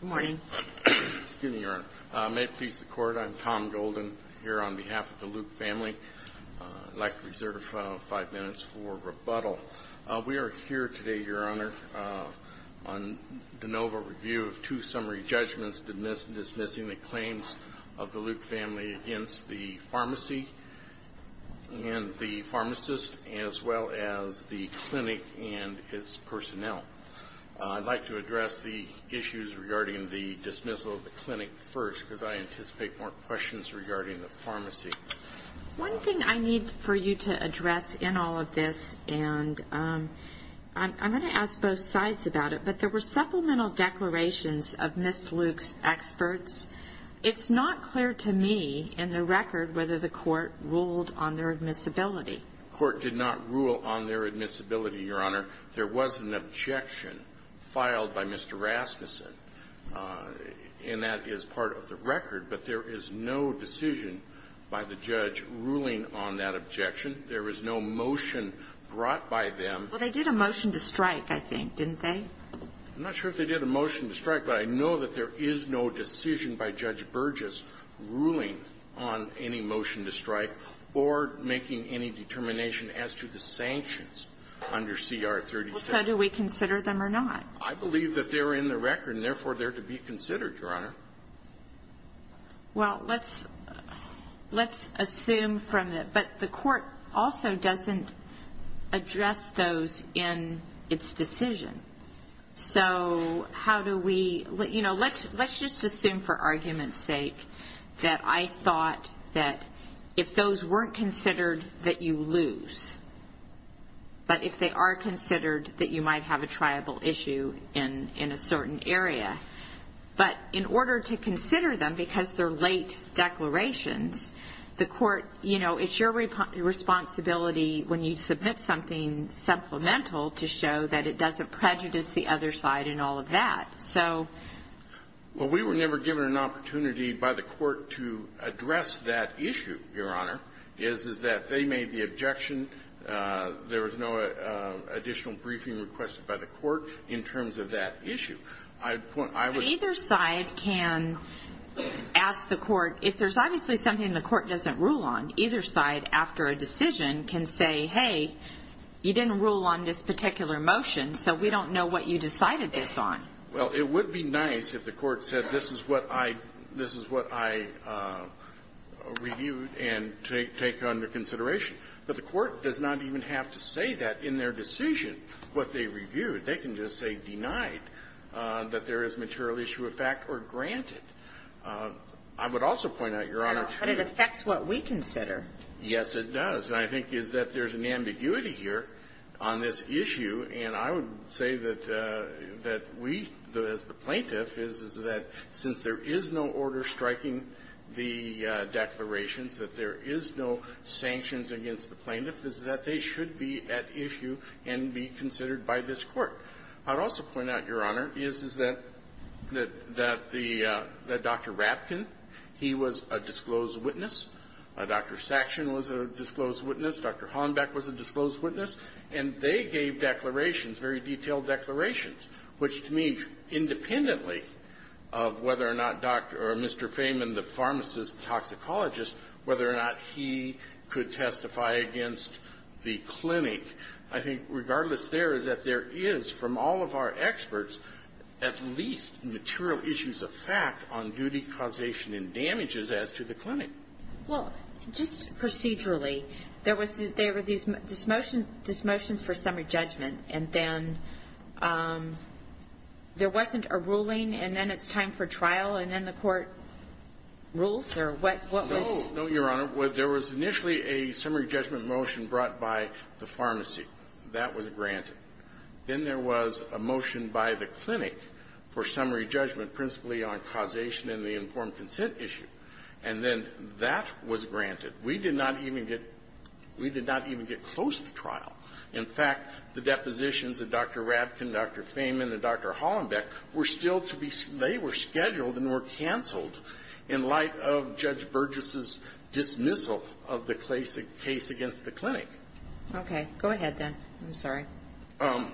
Good morning. May it please the Court I'm Tom Golden here on behalf of the Luke family. I'd like to reserve five minutes for rebuttal. We are here today, Your Honor, on de novo review of two summary judgments dismissing the claims of the Luke family against the pharmacy and the pharmacist as well as the clinic and its personnel. I'd like to address the issues regarding the dismissal of the clinic first because I anticipate more questions regarding the pharmacy. One thing I need for you to address in all of this and I'm going to ask both sides about it but there were supplemental declarations of Ms. Luke's experts. It's not clear to me in the record whether the court ruled on their admissibility, Your Honor. There was an objection filed by Mr. Rasmuson, and that is part of the record, but there is no decision by the judge ruling on that objection. There is no motion brought by them. Well, they did a motion to strike, I think, didn't they? I'm not sure if they did a motion to strike, but I know that there is no decision by Judge Burgess ruling on any motion to strike or making any determination as to the sanctions under CR 36. So do we consider them or not? I believe that they're in the record and therefore they're to be considered, Your Honor. Well, let's assume from the – but the court also doesn't address those in its decision. So how do we – let's just assume for argument's sake that I thought that if those weren't considered, that you lose. But if they are considered, that you might have a triable issue in a certain area. But in order to consider them because they're late declarations, the court – you know, it's your responsibility when you submit something supplemental to show that it doesn't prejudice the other side and all of that. So – I would point – I would – But either side can ask the court – if there's obviously something the court doesn't rule on, either side, after a decision, can say, hey, you didn't rule on this particular motion, so we don't know what you decided this on. Well, it would be nice if the court said, this is what I – this is what I objected to. But the court does not even have to say that in their decision, what they reviewed. They can just say denied that there is material issue of fact or granted. I would also point out, Your Honor – But it affects what we consider. Yes, it does. And I think is that there's an ambiguity here on this issue. And I would say that we, as the plaintiff, is that since there is no order striking the declarations, that there is no sanctions against the plaintiff, is that they should be at issue and be considered by this Court. I would also point out, Your Honor, is that the – that Dr. Rapkin, he was a disclosed witness. Dr. Saction was a disclosed witness. Dr. Hornbeck was a disclosed witness. And they gave declarations, very detailed declarations, which to me, independently of whether or not Dr. or Mr. Feynman, the pharmacist, toxicologist, whether or not he could testify against the clinic, I think regardless there is that there is, from all of our experts, at least material issues of fact on duty causation and damages as to the clinic. Well, just procedurally, there was – there were these – this motion for summary judgment, and then there wasn't a ruling, and then it's time for trial, and then the Court rules? Or what was the – No. No, Your Honor. There was initially a summary judgment motion brought by the pharmacy. That was granted. Then there was a motion by the clinic for summary judgment principally on causation and the informed consent issue. And then that was granted. We did not even get – we did not even get close to trial. In fact, the depositions of Dr. Rapkin, Dr. Feynman, and Dr. Hornbeck were still to be – they were scheduled and were canceled in light of Judge Burgess's dismissal of the case against the clinic.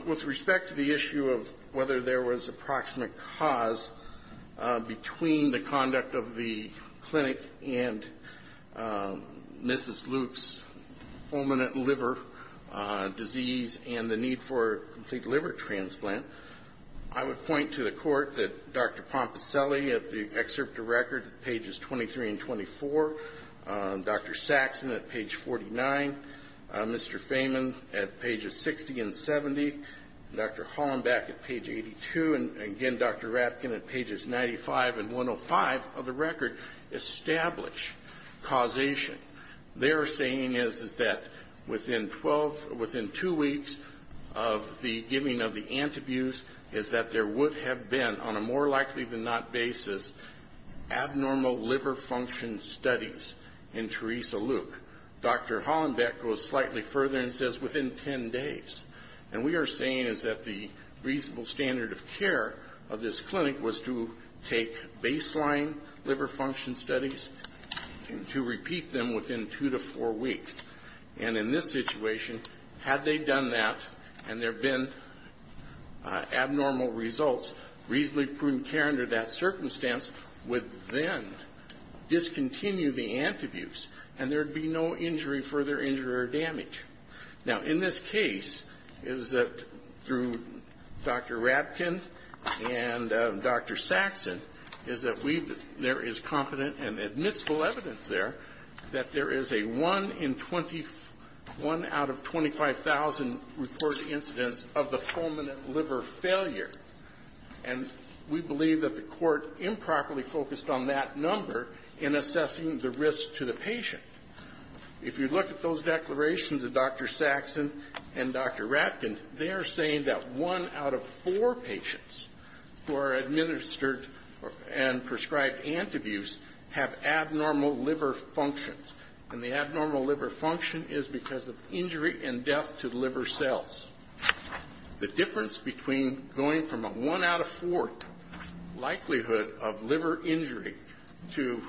With respect to the issue of whether there was approximate cause between the conduct of the clinic and Mrs. Luke's fulminant liver disease and the need for a complete liver transplant, I would point to the Court that Dr. Pompaselli at the excerpt Dr. Hornbeck at page 82, and again Dr. Rapkin at pages 95 and 105 of the record establish causation. Their saying is that within 12 – within two weeks of the giving of the antabuse is that there would have been, on a more likely than not basis, abnormal liver function studies in Teresa Luke. Dr. Hornbeck goes slightly further and says within 10 days. And we are saying is that the reasonable standard of care of this clinic was to take baseline liver function studies and to repeat them within two to four weeks. And in this situation, had they done that and there have been abnormal results, reasonably prudent care under that circumstance would then discontinue the antabuse and there would be no injury, further injury or damage. Now, in this case, is that through Dr. Rapkin and Dr. Saxon, is that we've – there is competent and admissible evidence there that there is a 1 in 21 out of 25,000 reported incidents of the fulminant liver failure. And we believe that the Court improperly focused on that number in assessing the risk to the patient. If you look at those declarations of Dr. Saxon and Dr. Rapkin, they are saying that one out of four patients who are administered and prescribed antabuse have abnormal liver functions. And the abnormal liver function is because of injury and death to liver cells. The difference between going from a one out of four likelihood of liver injury to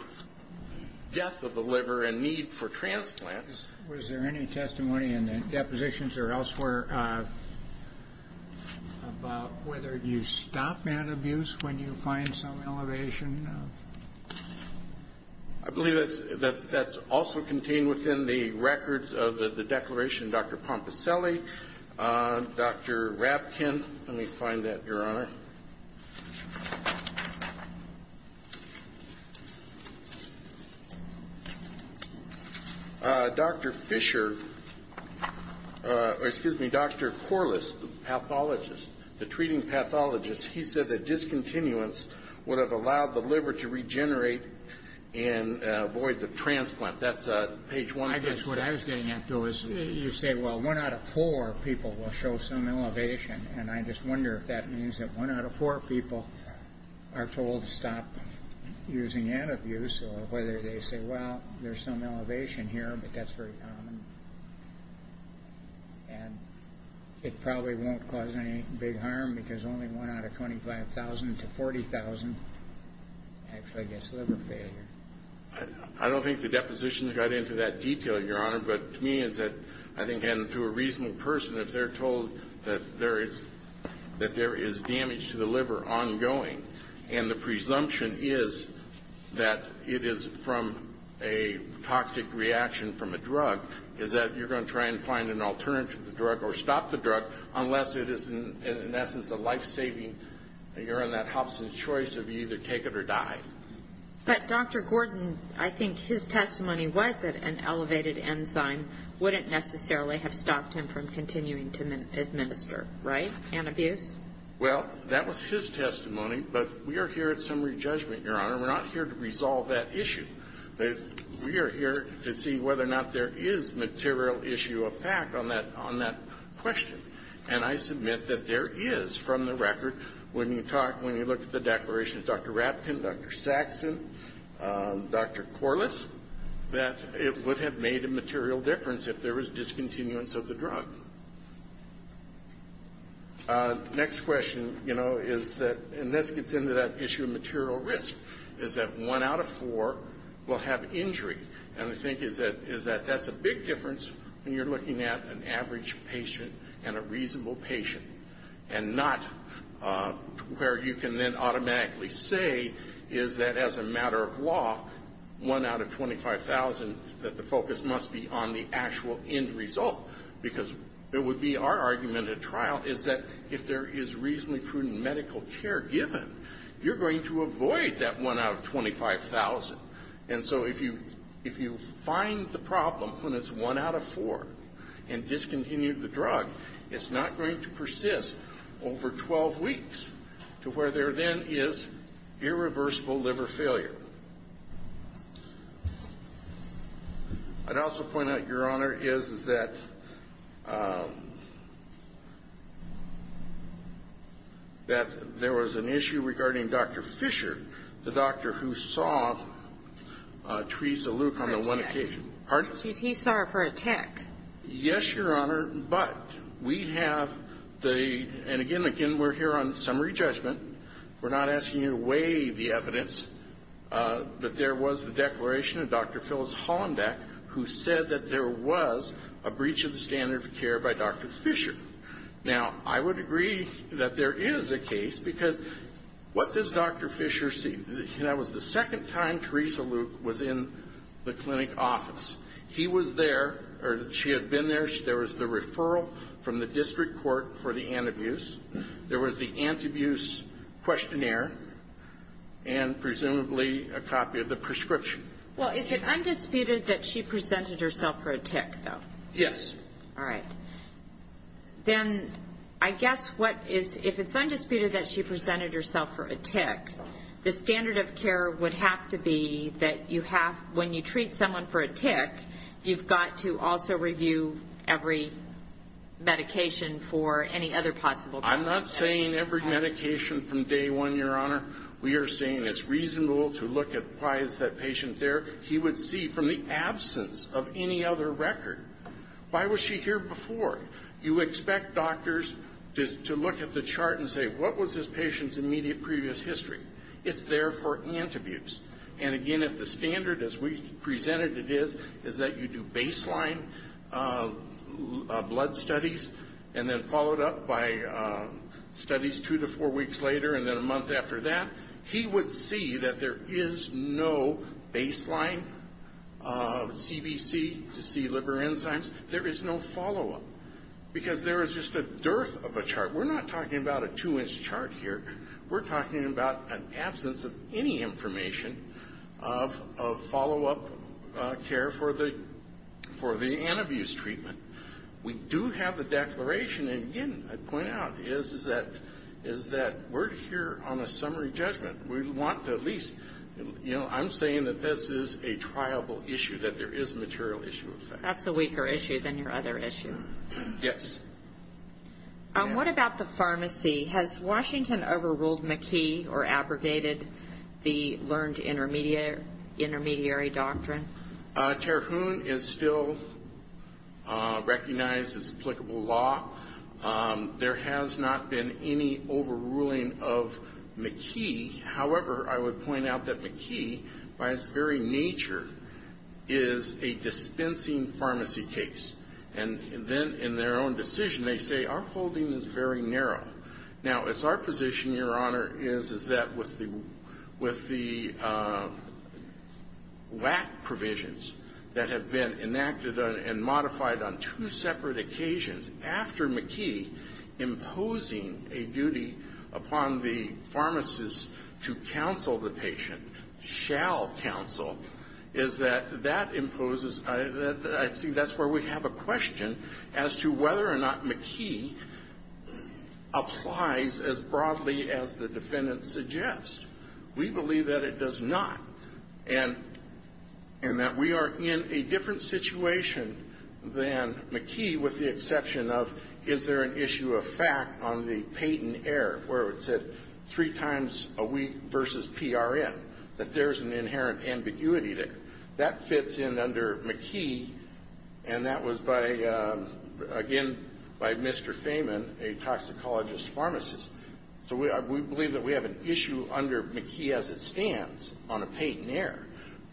death of the liver and need for transplant was there any testimony in the depositions or elsewhere about whether you stop antabuse when you find some elevation? I believe that's also contained within the records of the declaration. Dr. Pompaselli, Dr. Rapkin. Let me find that, Your Honor. Dr. Fischer – or, excuse me, Dr. Corliss, the pathologist, the treating pathologist, he said that discontinuance would have allowed the liver to regenerate and avoid the transplant. That's page 1 of this. I guess what I was getting at, though, is you say, well, one out of four people will show some elevation. And I just wonder if that means that one out of four people are told to stop using antabuse or whether they say, well, there's some elevation here, but that's very common. And it probably won't cause any big harm because only one out of 25,000 to 40,000 actually gets liver failure. I don't think the depositions got into that detail, Your Honor, but to me is that I think to a reasonable person, if they're told that there is damage to the liver ongoing and the presumption is that it is from a toxic reaction from a drug, is that you're going to try and find an alternative to the drug or stop the drug unless it is, in essence, a life-saving urine that helps in choice of you to take it or die. But Dr. Gordon, I think his testimony was that an elevated enzyme wouldn't necessarily have stopped him from continuing to administer, right, antabuse? Well, that was his testimony, but we are here at summary judgment, Your Honor. We're not here to resolve that issue. We are here to see whether or not there is material issue of fact on that question. And I submit that there is, from the record, when you talk about the declarations of Dr. Rapton, Dr. Saxon, Dr. Corliss, that it would have made a material difference if there was discontinuance of the drug. Next question, you know, is that, and this gets into that issue of material risk, is that one out of four will have injury. And I think is that that's a big difference when you're looking at an average patient and a reasonable patient, and not where you can then automatically say is that as a matter of law, one out of 25,000, that the focus must be on the actual end result. Because it would be our argument at trial is that if there is reasonably prudent medical care given, you're going to avoid that one out of 25,000. And so if you find that that wasn't the problem when it's one out of four and discontinued the drug, it's not going to persist over 12 weeks to where there then is irreversible liver failure. I'd also point out, Your Honor, is that there was an issue regarding Dr. Fisher, the doctor who saw Theresa Luke on the one occasion. Pardon? He saw her for a tick. Yes, Your Honor. But we have the, and again, again, we're here on summary judgment. We're not asking you to weigh the evidence. But there was the declaration of Dr. Phyllis Hollendeck who said that there was a breach of the standard of care by Dr. Fisher. Now, I would agree that there is a case, because what does Dr. Fisher see? That was the second time Theresa Luke was in the clinic office. He was there, or she had been there. There was the referral from the district court for the anti-abuse. There was the anti-abuse questionnaire and presumably a copy of the prescription. Well, is it undisputed that she presented herself for a tick, though? Yes. All right. Then I guess what is, if it's undisputed that she presented herself for a tick, the standard of care would have to be that you have, when you treat someone for a tick, you've got to also review every medication for any other possible. I'm not saying every medication from day one, Your Honor. We are saying it's reasonable to look at why is that patient there. He would see from the absence of any other record. Why was she here before? You expect doctors to look at the chart and say, what was this patient's immediate previous history? It's there for anti-abuse. And again, if the standard, as we presented it is, is that you do baseline blood studies and then follow it up by studies two to four weeks later and then a month after that, he would see that there is no baseline CBC to see liver enzymes. There is no follow-up because there is just a dearth of a chart. We're not talking about a two-inch chart here. We're talking about an absence of any information of follow-up care for the anti-abuse treatment. We do have a declaration, and again, I point out, is that we're here on a summary judgment. We want to at least, you know, I'm saying that this is a triable issue, that there is a material issue of fact. That's a weaker issue than your other issue. Yes. What about the pharmacy? Has Washington overruled McKee or abrogated the learned intermediary doctrine? Terhune is still recognized as applicable law. There has not been any overruling of McKee. However, I would point out that McKee, by its very nature, is a dispensing pharmacy case. And then in their own decision, they say, our holding is very narrow. Now, it's our position, Your Honor, is that with the WAC provisions that have been enacted and modified on two separate occasions after McKee imposing a duty upon the pharmacist to counsel the patient, shall counsel, is that that imposes, I think that's where we have a question as to whether or not McKee applies as broadly as the defendant suggests. We believe that it does not, and that we are in a different situation than McKee with the exception of, is there an issue of fact on the patent error where it said three times a week versus PRM, that there's an inherent ambiguity there. That fits in under McKee, and that was by, again, by Mr. Fehman, a toxicologist pharmacist. So we believe that we have an issue under McKee as it stands on a patent error.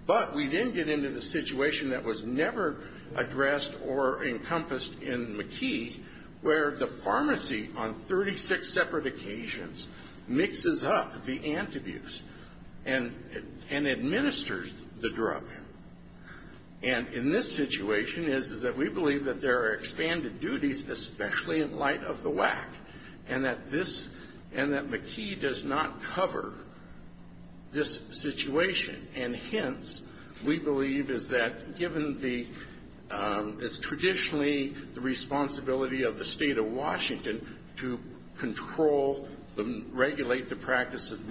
But we didn't get into the situation that was never addressed or encompassed in McKee where the pharmacy on 36 separate occasions mixes up the antibuse and administers the drug. And in this situation is that we believe that there are expanded duties, especially in light of the WAC, and that this, and that McKee does not cover this situation. And hence, we believe is that given the, it's traditionally the responsibility of the State of Washington to control, regulate the practice of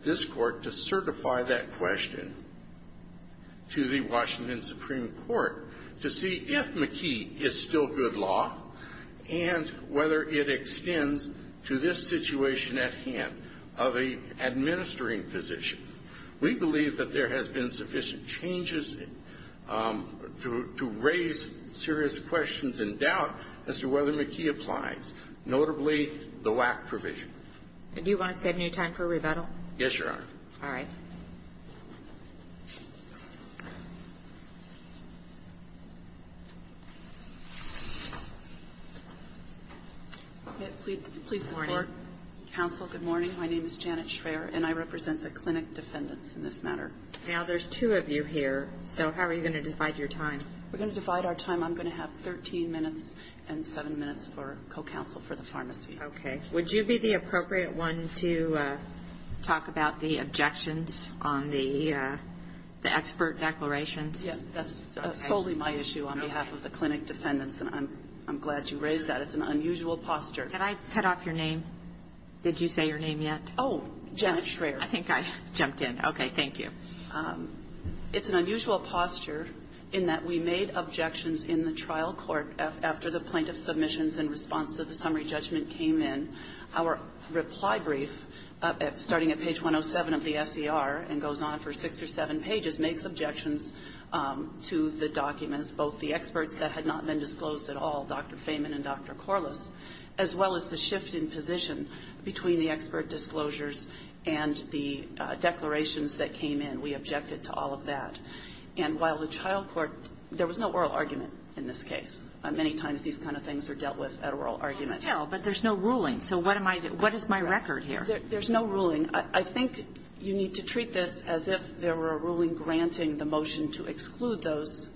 this Court to certify that question to the Washington Supreme Court to see if McKee is still good law and whether it extends to this situation at hand of an administering physician. We believe that there has been sufficient changes to raise serious questions and doubt as to whether McKee applies, notably the WAC provision. And do you want to save me time for rebuttal? Yes, Your Honor. All right. Please support. Counsel, good morning. My name is Janet Schraer, and I represent the clinic defendants in this matter. Now, there's two of you here. So how are you going to divide your time? We're going to divide our time. I'm going to have 13 minutes and 7 minutes for co-counsel for the pharmacy. Okay. Would you be the appropriate one to talk about the objections on the expert declarations? Yes. That's solely my issue on behalf of the clinic defendants, and I'm glad you raised that. It's an unusual posture. Can I cut off your name? Did you say your name yet? Oh, Janet Schraer. I think I jumped in. Okay. Thank you. It's an unusual posture in that we made objections in the trial court after the doctor came in. Our reply brief, starting at page 107 of the SCR and goes on for six or seven pages, makes objections to the documents, both the experts that had not been disclosed at all, Dr. Feyman and Dr. Corliss, as well as the shift in position between the expert disclosures and the declarations that came in. We objected to all of that. And while the trial court, there was no oral argument in this case. Many times these kind of things are dealt with at oral arguments. But there's no ruling. So what am I doing? What is my record here? There's no ruling. I think you need to treat this as if there were a ruling granting the motion to exclude those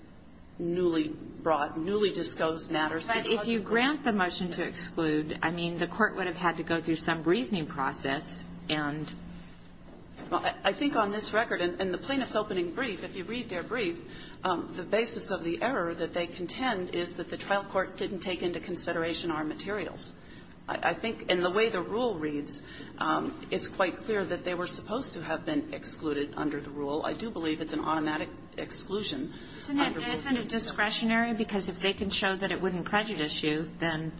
newly brought, newly disclosed matters. But if you grant the motion to exclude, I mean, the court would have had to go through some reasoning process and ---- Well, I think on this record, in the plaintiff's opening brief, if you read their brief, the basis of the error that they contend is that the trial court didn't take into consideration our materials. I think in the way the rule reads, it's quite clear that they were supposed to have been excluded under the rule. I do believe it's an automatic exclusion under the rule. Isn't that discretionary? Because if they can show that it wouldn't prejudice you, then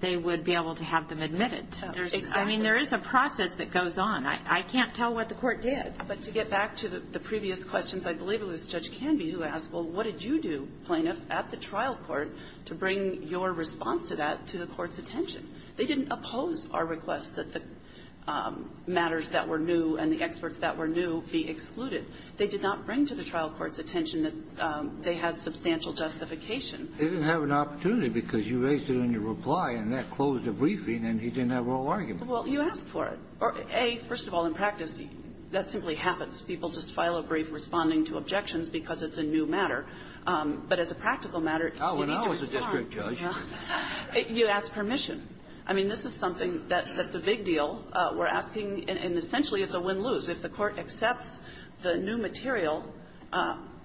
they would be able to have them admitted. Exactly. I mean, there is a process that goes on. I can't tell what the court did. But to get back to the previous questions, I believe it was Judge Canby who asked, well, what did you do, plaintiff, at the trial court to bring your response to that to the court's attention? They didn't oppose our request that the matters that were new and the experts that were new be excluded. They did not bring to the trial court's attention that they had substantial justification. They didn't have an opportunity because you raised it in your reply, and that closed a briefing, and he didn't have a rule argument. Well, you asked for it. A, first of all, in practice, that simply happens. People just file a brief responding to objections because it's a new matter. But as a practical matter, you need to respond. Oh, when I was a district judge. You ask permission. I mean, this is something that's a big deal. We're asking, and essentially it's a win-lose. If the court accepts the new material,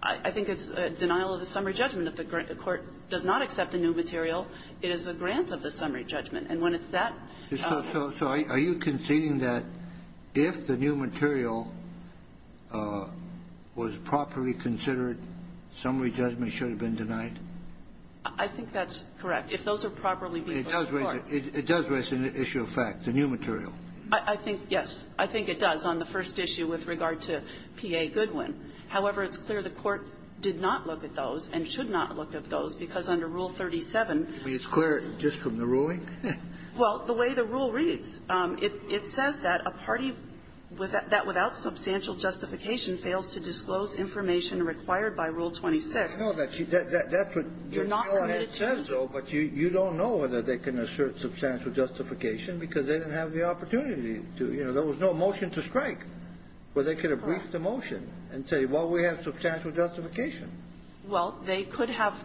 I think it's a denial of the summary judgment. If the court does not accept the new material, it is a grant of the summary judgment. And when it's that ---- So are you conceding that if the new material was properly considered, summary judgment should have been denied? I think that's correct. If those are properly ---- It does raise an issue of fact, the new material. I think, yes, I think it does on the first issue with regard to P.A. Goodwin. However, it's clear the court did not look at those and should not look at those because under Rule 37 ---- I mean, it's clear just from the ruling? Well, the way the rule reads, it says that a party that without substantial justification fails to disclose information required by Rule 26. I know that. That's what your fella had said so, but you don't know whether they can assert substantial justification because they didn't have the opportunity to. You know, there was no motion to strike where they could have briefed the motion and say, well, we have substantial justification. Well, they could have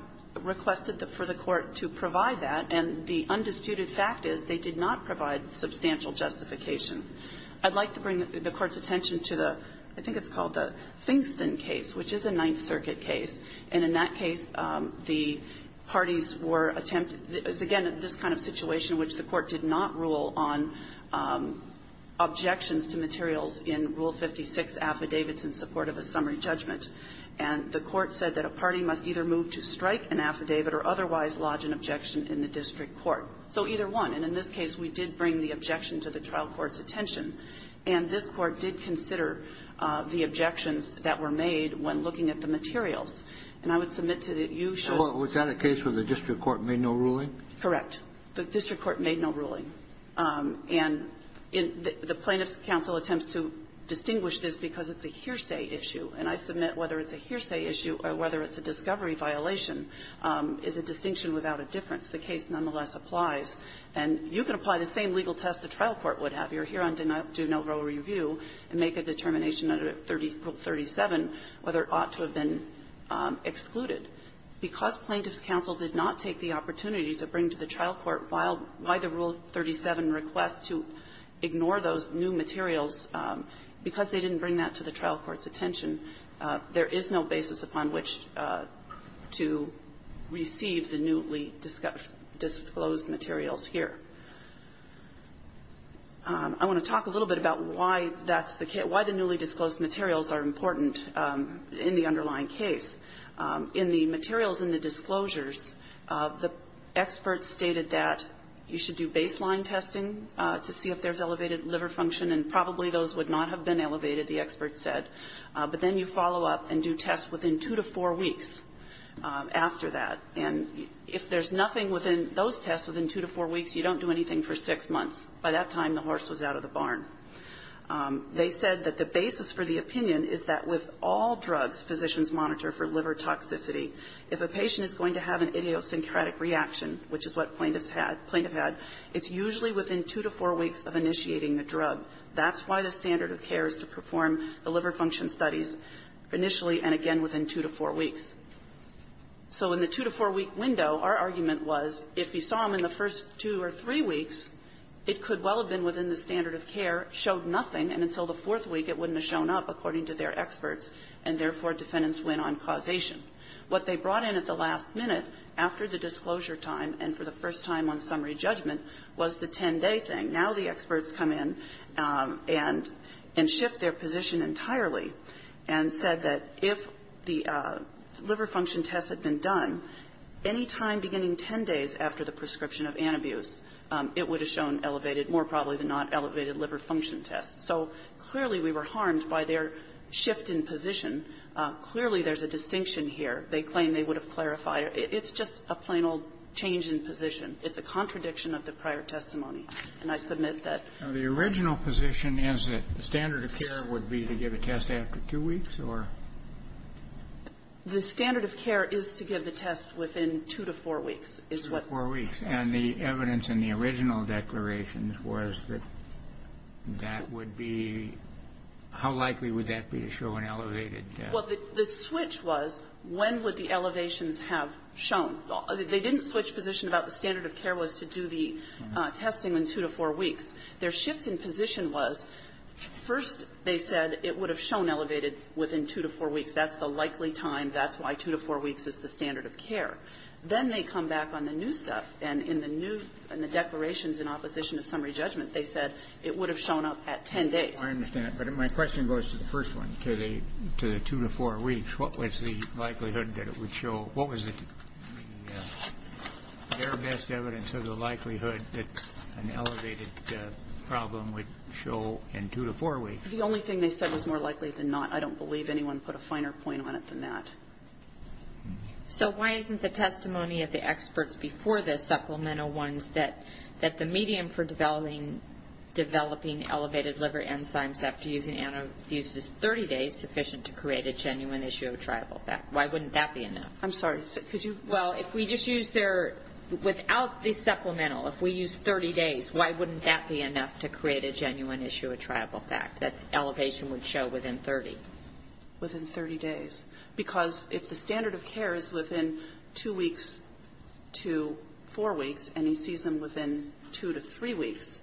requested for the court to provide that, and the undisputed fact is they did not provide substantial justification. I'd like to bring the Court's attention to the ---- I think it's called the Thingston case, which is a Ninth Circuit case. And in that case, the parties were attempted ---- it was, again, this kind of situation in which the Court did not rule on objections to materials in Rule 56 affidavits in support of a summary judgment. And the Court said that a party must either move to strike an affidavit or otherwise lodge an objection in the district court. So either one. And in this case, we did bring the objection to the trial court's attention. And this Court did consider the objections that were made when looking at the materials. And I would submit to that you should ---- Kennedy, was that a case where the district court made no ruling? Correct. The district court made no ruling. And the Plaintiffs' Counsel attempts to distinguish this because it's a hearsay issue. And I submit whether it's a hearsay issue or whether it's a discovery violation is a distinction without a difference. The case nonetheless applies. And you can apply the same legal test the trial court would have. You're here on do no rule review and make a determination under Rule 37 whether it ought to have been excluded. Because Plaintiffs' Counsel did not take the opportunity to bring to the trial court why the Rule 37 requests to ignore those new materials, because they didn't bring that to the trial court's attention, there is no basis upon which to receive the newly disclosed materials here. I want to talk a little bit about why that's the case, why the newly disclosed materials are important in the underlying case. In the materials in the disclosures, the experts stated that you should do baseline testing to see if there's elevated liver function, and probably those would not have been elevated, the experts said. But then you follow up and do tests within two to four weeks after that. And if there's nothing within those tests within two to four weeks, you don't do anything for six months. By that time, the horse was out of the barn. They said that the basis for the opinion is that with all drugs physicians monitor for liver toxicity, if a patient is going to have an idiosyncratic reaction, which is what plaintiffs had, it's usually within two to four weeks of initiating the drug. That's why the standard of care is to perform the liver function studies initially and again within two to four weeks. So in the two-to-four-week window, our argument was, if you saw them in the first two or three weeks, it could well have been within the standard of care, showed nothing, and until the fourth week, it wouldn't have shown up, according to their experts, and therefore, defendants went on causation. What they brought in at the last minute after the disclosure time and for the first time on summary judgment was the 10-day thing. Now the experts come in and shift their position entirely and said that if the, the liver function tests had been done, any time beginning 10 days after the prescription of anabuse, it would have shown elevated, more probably than not, elevated liver function tests. So clearly, we were harmed by their shift in position. Clearly, there's a distinction here. They claim they would have clarified. It's just a plain old change in position. It's a contradiction of the prior testimony, and I submit that. Now, the original position is that the standard of care would be to give a test after two weeks, or? The standard of care is to give the test within two to four weeks, is what we're saying. Two to four weeks. And the evidence in the original declaration was that that would be how likely would that be to show an elevated test? Well, the switch was when would the elevations have shown. They didn't switch position about the standard of care was to do the testing within two to four weeks. Their shift in position was, first, they said it would have shown elevated within two to four weeks. That's the likely time. That's why two to four weeks is the standard of care. Then they come back on the new stuff, and in the new, in the declarations in opposition to summary judgment, they said it would have shown up at 10 days. I understand. But my question goes to the first one, to the two to four weeks. What was the likelihood that it would show? What was the, their best evidence of the likelihood that an elevated problem would show in two to four weeks? The only thing they said was more likely than not. I don't believe anyone put a finer point on it than that. So why isn't the testimony of the experts before this, supplemental ones, that the medium for developing elevated liver enzymes after using anti-abuse is 30 days sufficient to create a genuine issue of triable effect? Why wouldn't that be enough? I'm sorry. Could you? Well, if we just use their, without the supplemental, if we use 30 days, why wouldn't that be enough to create a genuine issue of triable effect, that elevation would show within 30? Within 30 days. Because if the standard of care is within two weeks to four weeks, and he sees them within two to three weeks,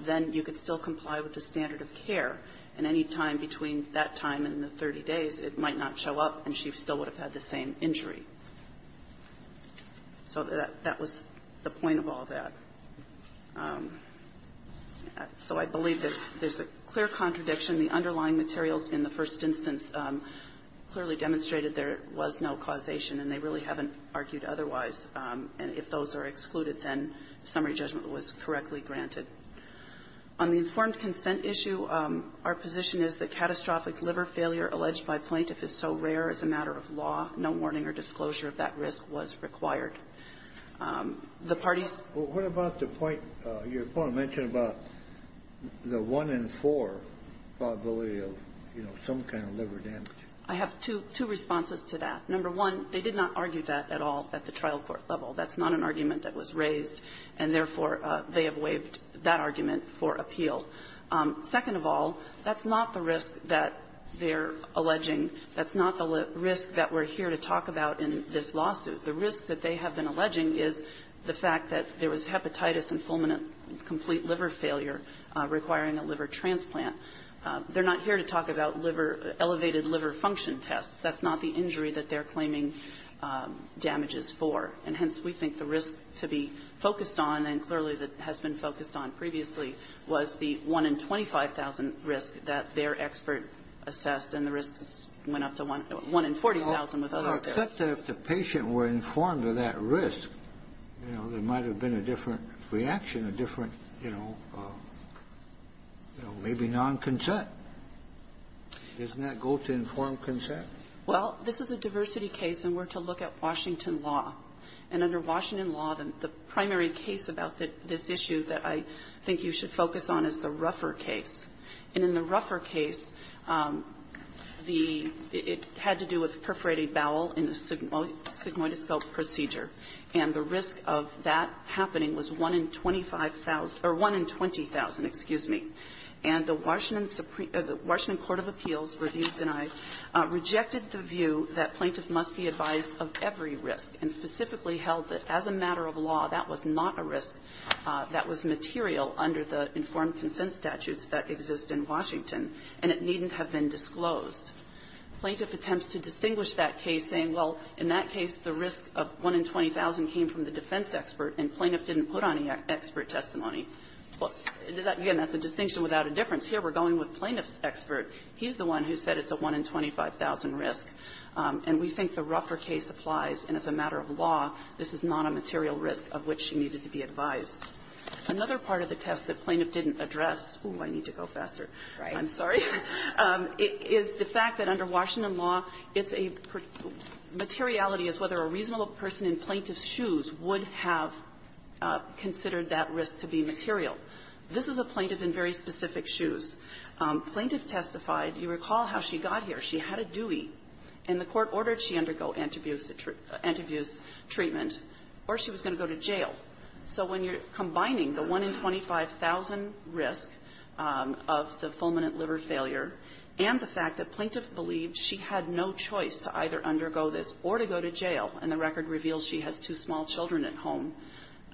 then you could still comply with the standard of care. And any time between that time and the 30 days, it might not show up, and she still would have had the same injury. So that was the point of all that. So I believe there's a clear contradiction. The underlying materials in the first instance clearly demonstrated there was no causation, and they really haven't argued otherwise. And if those are excluded, then summary judgment was correctly granted. On the informed consent issue, our position is that catastrophic liver failure alleged by a plaintiff is so rare as a matter of law, no warning or disclosure of that risk was required. The parties ---- Well, what about the point your opponent mentioned about the one-in-four probability of, you know, some kind of liver damage? I have two responses to that. Number one, they did not argue that at all at the trial court level. That's not an argument that was raised, and therefore, they have waived that argument for appeal. Second of all, that's not the risk that they're alleging. That's not the risk that we're here to talk about in this lawsuit. The risk that they have been alleging is the fact that there was hepatitis and fulminant complete liver failure requiring a liver transplant. They're not here to talk about liver ---- elevated liver function tests. That's not the injury that they're claiming damages for. And hence, we think the risk to be focused on, and clearly that has been focused on previously, was the one-in-25,000 risk that their expert assessed, and the risk went up to one-in-40,000 with other experts. Well, except that if the patient were informed of that risk, you know, there might have been a different reaction, a different, you know, maybe non-consent. Doesn't that go to informed consent? Well, this is a diversity case, and we're to look at Washington law. And under Washington law, the primary case about this issue that I think you should focus on is the Ruffer case. And in the Ruffer case, the ---- it had to do with perforated bowel in the sigmoidoscope procedure, and the risk of that happening was one-in-25,000 or one-in-20,000, excuse me. And the Washington Supreme ---- the Washington Court of Appeals, review denied, rejected the view that plaintiff must be advised of every risk, and specifically held that as a matter of law, that was not a risk. That was material under the informed consent statutes that exist in Washington, and it needn't have been disclosed. Plaintiff attempts to distinguish that case, saying, well, in that case, the risk of one-in-20,000 came from the defense expert, and plaintiff didn't put on the expert testimony. Well, again, that's a distinction without a difference. Here, we're going with plaintiff's expert. He's the one who said it's a one-in-25,000 risk. And we think the Ruffer case applies. And as a matter of law, this is not a material risk of which she needed to be advised. Another part of the test that plaintiff didn't address ---- oh, I need to go faster. I'm sorry ---- is the fact that under Washington law, it's a ---- materiality is whether a reasonable person in plaintiff's shoes would have considered that risk to be material. This is a plaintiff in very specific shoes. Plaintiff testified. You recall how she got here. She had a dewey, and the court ordered she undergo anti-abuse treatment, or she was going to go to jail. So when you're combining the one-in-25,000 risk of the fulminant liver failure and the fact that plaintiff believed she had no choice to either undergo this or to go to jail, and the record reveals she has two small children at home,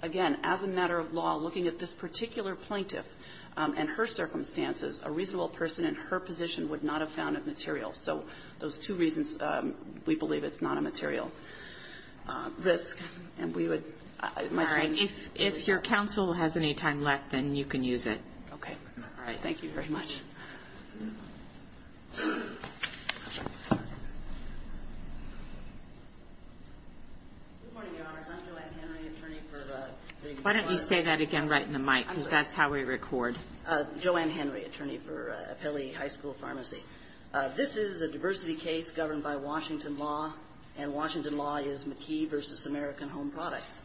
again, as a matter of law, looking at this particular plaintiff and her circumstances, a reasonable person in her position would not have found it material. So those two reasons we believe it's not a material risk. And we would ---- All right. If your counsel has any time left, then you can use it. Okay. All right. Thank you very much. Good morning, Your Honors. I'm Juliet Hanna, the attorney for ---- Why don't you say that again right in the mic, because that's how we record. Joanne Henry, attorney for Appellee High School Pharmacy. This is a diversity case governed by Washington law, and Washington law is McKee v. American Home Products.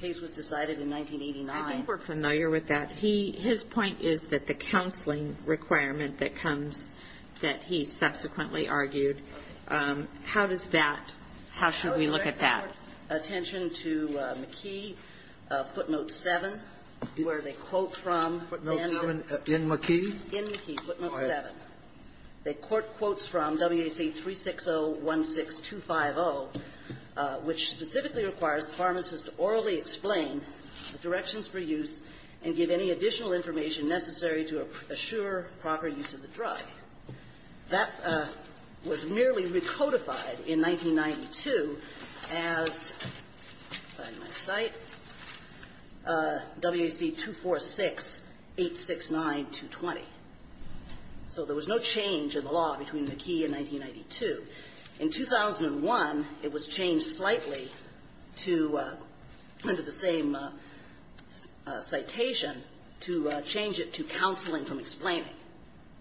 The case was decided in 1989. I think we're familiar with that. His point is that the counseling requirement that comes that he subsequently argued, how does that ---- how should we look at that? Attention to McKee, footnote 7, where they quote from ---- In McKee? In McKee, footnote 7. They quote quotes from WAC 360-16250, which specifically requires the pharmacist to orally explain the directions for use and give any additional information necessary to assure proper use of the drug. That was merely recodified in 1992 as, if I can find my site, WAC 246-869-220. So there was no change in the law between McKee and 1992. In 2001, it was changed slightly to, under the same citation, to change it to counseling from explaining.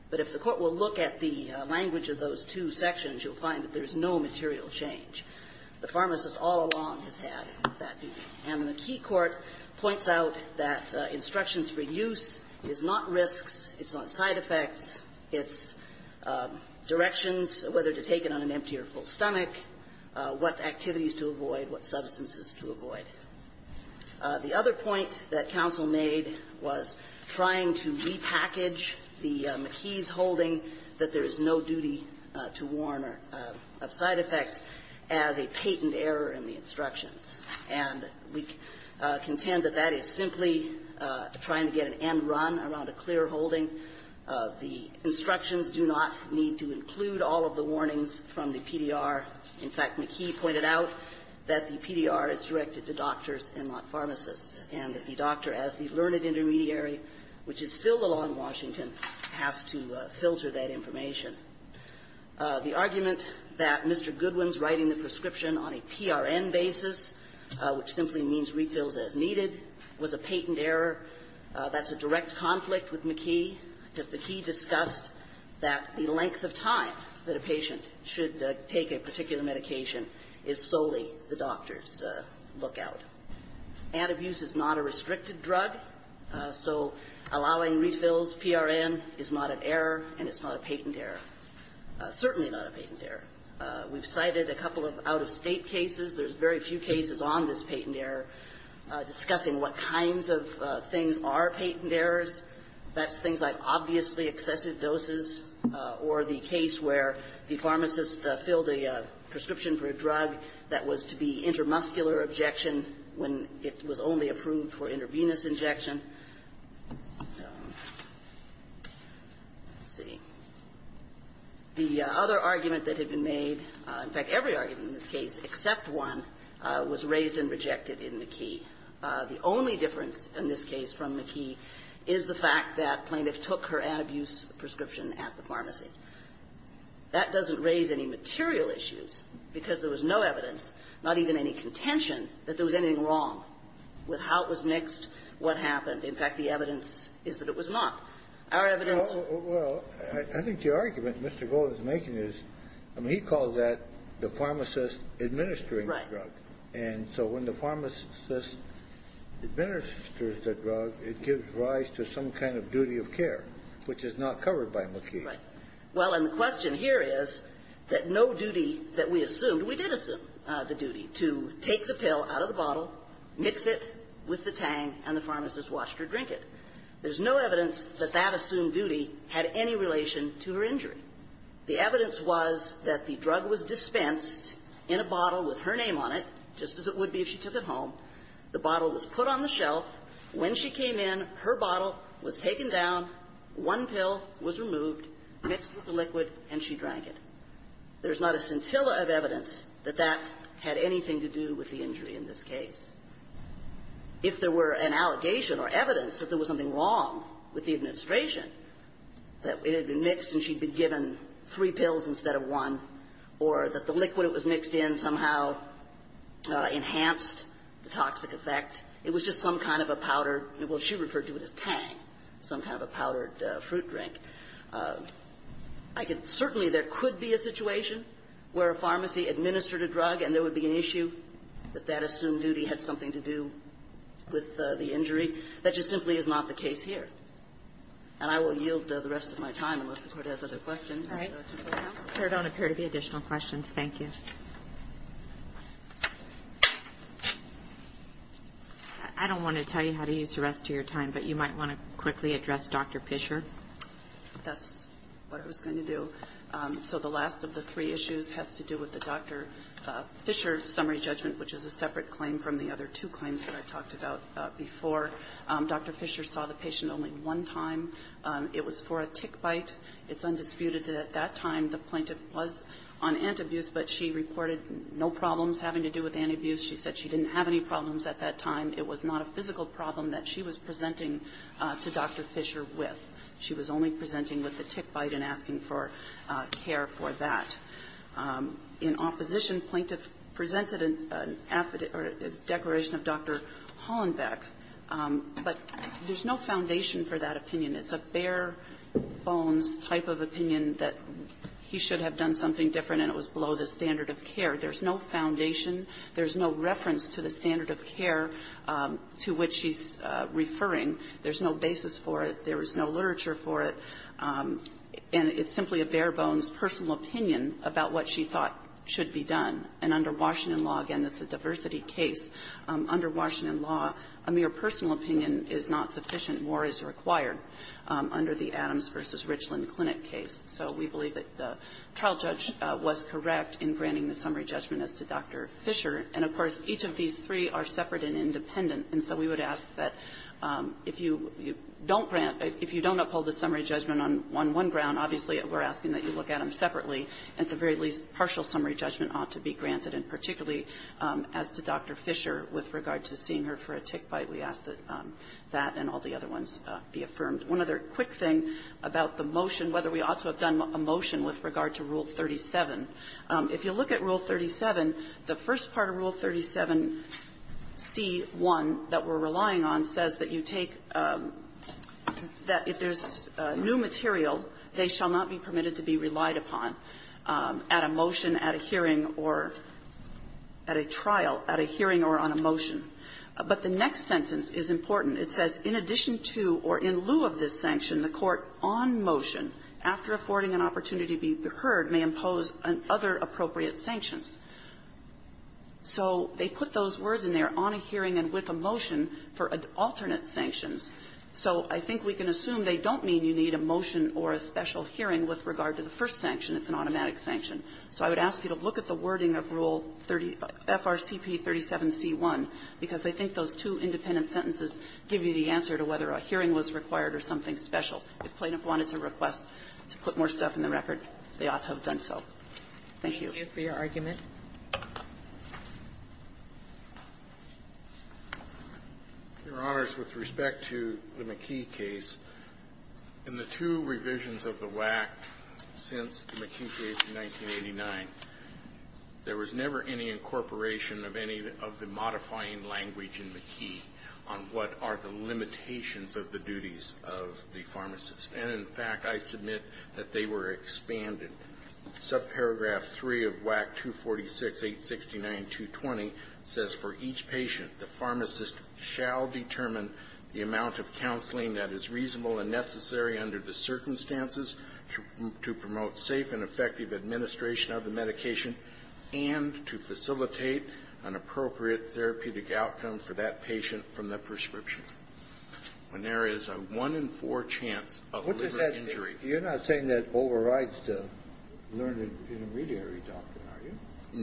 But if the Court will look at the language of those two sections, you'll find that there's no material change. The pharmacist all along has had that view. And the Key Court points out that instructions for use is not risks, it's not side effects, it's directions, whether to take it on an empty or full stomach, what activities to avoid, what substances to avoid. The other point that counsel made was trying McKee's holding that there is no duty to warn of side effects as a patent error in the instructions. And we contend that that is simply trying to get an end run around a clear holding. The instructions do not need to include all of the warnings from the PDR. In fact, McKee pointed out that the PDR is directed to doctors and not pharmacists, and that the doctor, as the learned intermediary, which is still the law in Washington, has to filter that information. The argument that Mr. Goodwin's writing the prescription on a PRN basis, which simply means refills as needed, was a patent error. That's a direct conflict with McKee. McKee discussed that the length of time that a patient should take a particular medication is solely the doctor's lookout. Antabuse is not a restricted drug, so allowing refills, PRN, is not an error, and it's not a patent error. Certainly not a patent error. We've cited a couple of out-of-state cases. There's very few cases on this patent error discussing what kinds of things are patent errors. That's things like obviously excessive doses or the case where the pharmacist filled a prescription for a drug that was to be intermuscular injection when it was only approved for intravenous injection. Let's see. The other argument that had been made, in fact, every argument in this case except one, was raised and rejected in McKee. The only difference in this case from McKee is the fact that plaintiff took her antabuse prescription at the pharmacy. That doesn't raise any material issues, because there was no evidence, not even any contention, that there was anything wrong with how it was mixed, what happened. In fact, the evidence is that it was not. Our evidence was not. Well, I think the argument Mr. Golden is making is, I mean, he calls that the pharmacist administering the drug. Right. And so when the pharmacist administers the drug, it gives rise to some kind of duty of care, which is not covered by McKee. Right. Well, and the question here is that no duty that we assumed, we did assume the duty to take the pill out of the bottle, mix it with the tang, and the pharmacist washed or drank it. There's no evidence that that assumed duty had any relation to her injury. The evidence was that the drug was dispensed in a bottle with her name on it, just as it would be if she took it home. The bottle was put on the shelf. When she came in, her bottle was taken down, one pill was removed, mixed with the liquid, and she drank it. There's not a scintilla of evidence that that had anything to do with the injury in this case. If there were an allegation or evidence that there was something wrong with the administration, that it had been mixed and she'd been given three pills instead of one, or that the liquid it was mixed in somehow enhanced the toxic effect, it was just some kind of a powdered – well, she referred to it as tang, some kind of a powdered fruit drink. I could – certainly there could be a situation where a pharmacy administered a drug and there would be an issue that that assumed duty had something to do with the injury. That just simply is not the case here. And I will yield the rest of my time, unless the Court has other questions. Ms. Kagan. All right. There don't appear to be additional questions. Thank you. I don't want to tell you how to use the rest of your time, but you might want to quickly address Dr. Fischer. That's what I was going to do. So the last of the three issues has to do with the Dr. Fischer summary judgment, which is a separate claim from the other two claims that I talked about before. Dr. Fischer saw the patient only one time. It was for a tick bite. It's undisputed that at that time the plaintiff was on anti-abuse, but she reported no problems having to do with anti-abuse. She said she didn't have any problems at that time. It was not a physical problem that she was presenting to Dr. Fischer with. She was only presenting with the tick bite and asking for care for that. In opposition, plaintiff presented an affidavit or a declaration of Dr. Hollenbeck, but there's no foundation for that opinion. It's a bare-bones type of opinion that he should have done something different and it was below the standard of care. There's no foundation. There's no reference to the standard of care to which she's referring. There's no basis for it. There was no literature for it. And it's simply a bare-bones personal opinion about what she thought should be done. And under Washington law, again, it's a diversity case. Under Washington law, a mere personal opinion is not sufficient. More is required under the Adams v. Richland Clinic case. So we believe that the trial judge was correct in granting the summary judgment as to Dr. Fischer. And, of course, each of these three are separate and independent. And so we would ask that if you don't grant or if you don't uphold the summary judgment on one ground, obviously, we're asking that you look at them separately. At the very least, partial summary judgment ought to be granted. And particularly as to Dr. Fischer, with regard to seeing her for a tick bite, we ask that that and all the other ones be affirmed. One other quick thing about the motion, whether we ought to have done a motion with regard to Rule 37. If you look at Rule 37, the first part of Rule 37c-1 that we're relying on says that you take that if there's new material, they shall not be permitted to be relied upon at a motion, at a hearing, or at a trial, at a hearing or on a motion. But the next sentence is important. It says, So they put those words in there, on a hearing and with a motion, for alternate sanctions. So I think we can assume they don't mean you need a motion or a special hearing with regard to the first sanction. It's an automatic sanction. So I would ask you to look at the wording of Rule 30, FRCP 37c-1, because I think those two independent sentences give you the answer to whether a hearing was required or something special. If plaintiff wanted to request to put more stuff in the record, they ought to have done so. Thank you. Kagan for your argument. Your Honors, with respect to the McKee case, in the two revisions of the WAC since the McKee case in 1989, there was never any incorporation of any of the modifying language in McKee on what are the limitations of the duties of the pharmacist. And, in fact, I submit that they were expanded. Subparagraph 3 of WAC 246-869-220 says, For each patient, the pharmacist shall determine the amount of counseling that is reasonable and necessary under the circumstances to promote safe and effective administration of the medication and to facilitate an appropriate therapeutic outcome for that patient from the prescription. When there is a 1 in 4 chance of liver injury. You're not saying that overrides the learned intermediary doctrine, are you?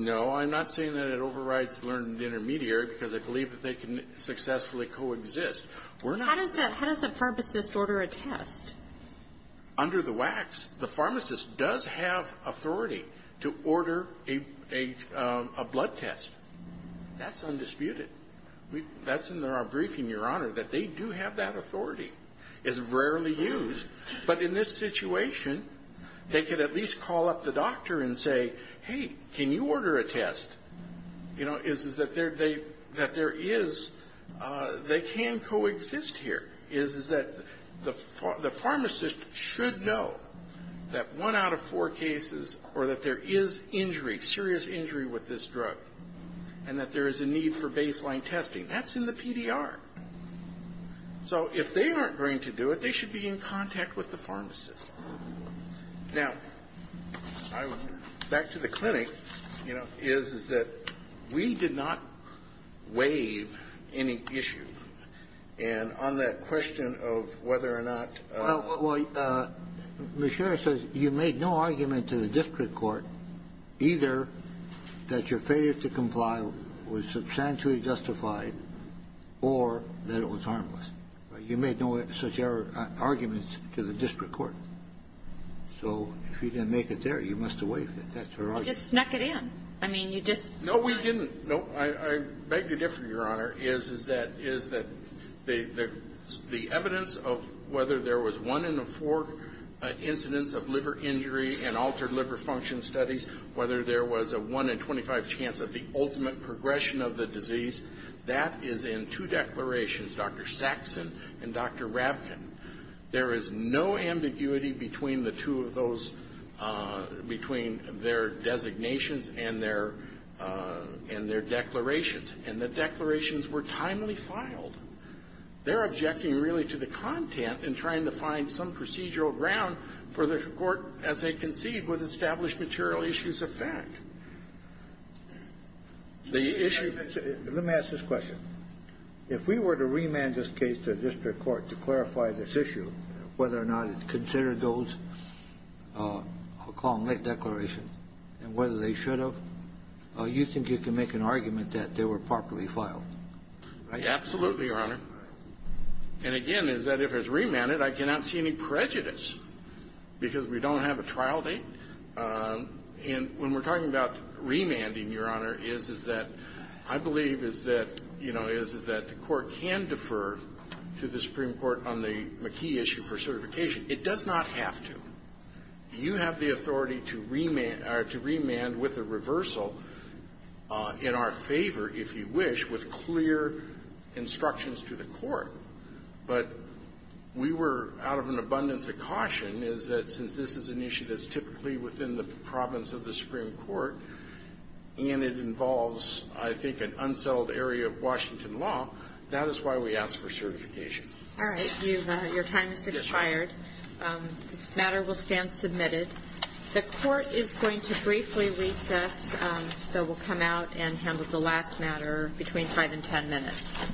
No, I'm not saying that it overrides learned intermediary, because I believe that they can successfully coexist. How does a pharmacist order a test? Under the WACs, the pharmacist does have authority to order a blood test. That's undisputed. That's in our briefing, Your Honor, that they do have that authority. It's rarely used. But in this situation, they could at least call up the doctor and say, Hey, can you order a test? You know, is that there is, they can coexist here. The pharmacist should know that 1 out of 4 cases or that there is injury, serious injury with this drug, and that there is a need for baseline testing. That's in the PDR. So if they aren't going to do it, they should be in contact with the pharmacist. Now, back to the clinic, you know, is that we did not waive any issues. And on that question of whether or not you made no argument to the district court, either that your failure to comply was substantially justified or that it was harmless. You made no such arguments to the district court. So if you didn't make it there, you must have waived it. That's your argument. You just snuck it in. I mean, you just no, we didn't. I beg to differ, Your Honor, is that the evidence of whether there was 1 in the 4 incidents of liver injury and altered liver function studies, whether there was a 1 in 25 chance of the ultimate progression of the disease, that is in two declarations, Dr. Saxon and Dr. Rabkin. There is no ambiguity between the two of those, between their designations and their declarations. And the declarations were timely filed. They're objecting really to the content in trying to find some procedural ground for the court, as they concede, with established material issues of fact. The issue of the issue Let me ask this question. If we were to remand this case to district court to clarify this issue, whether or not it's considered those Hong Kong Lake declarations legitimate, and whether they should have, you think you can make an argument that they were properly filed? Absolutely, Your Honor. And again, is that if it's remanded, I cannot see any prejudice, because we don't have a trial date. And when we're talking about remanding, Your Honor, is that I believe is that, you know, is that the court can defer to the Supreme Court on the McKee issue for certification. It does not have to. You have the authority to remand with a reversal in our favor, if you wish, with clear instructions to the court. But we were, out of an abundance of caution, is that since this is an issue that's typically within the province of the Supreme Court, and it involves, I think, an unsettled area of Washington law, that is why we ask for certification. All right. Your time has expired. Yes, Your Honor. This matter will stand submitted. The court is going to briefly recess, so we'll come out and handle the last matter between 5 and 10 minutes.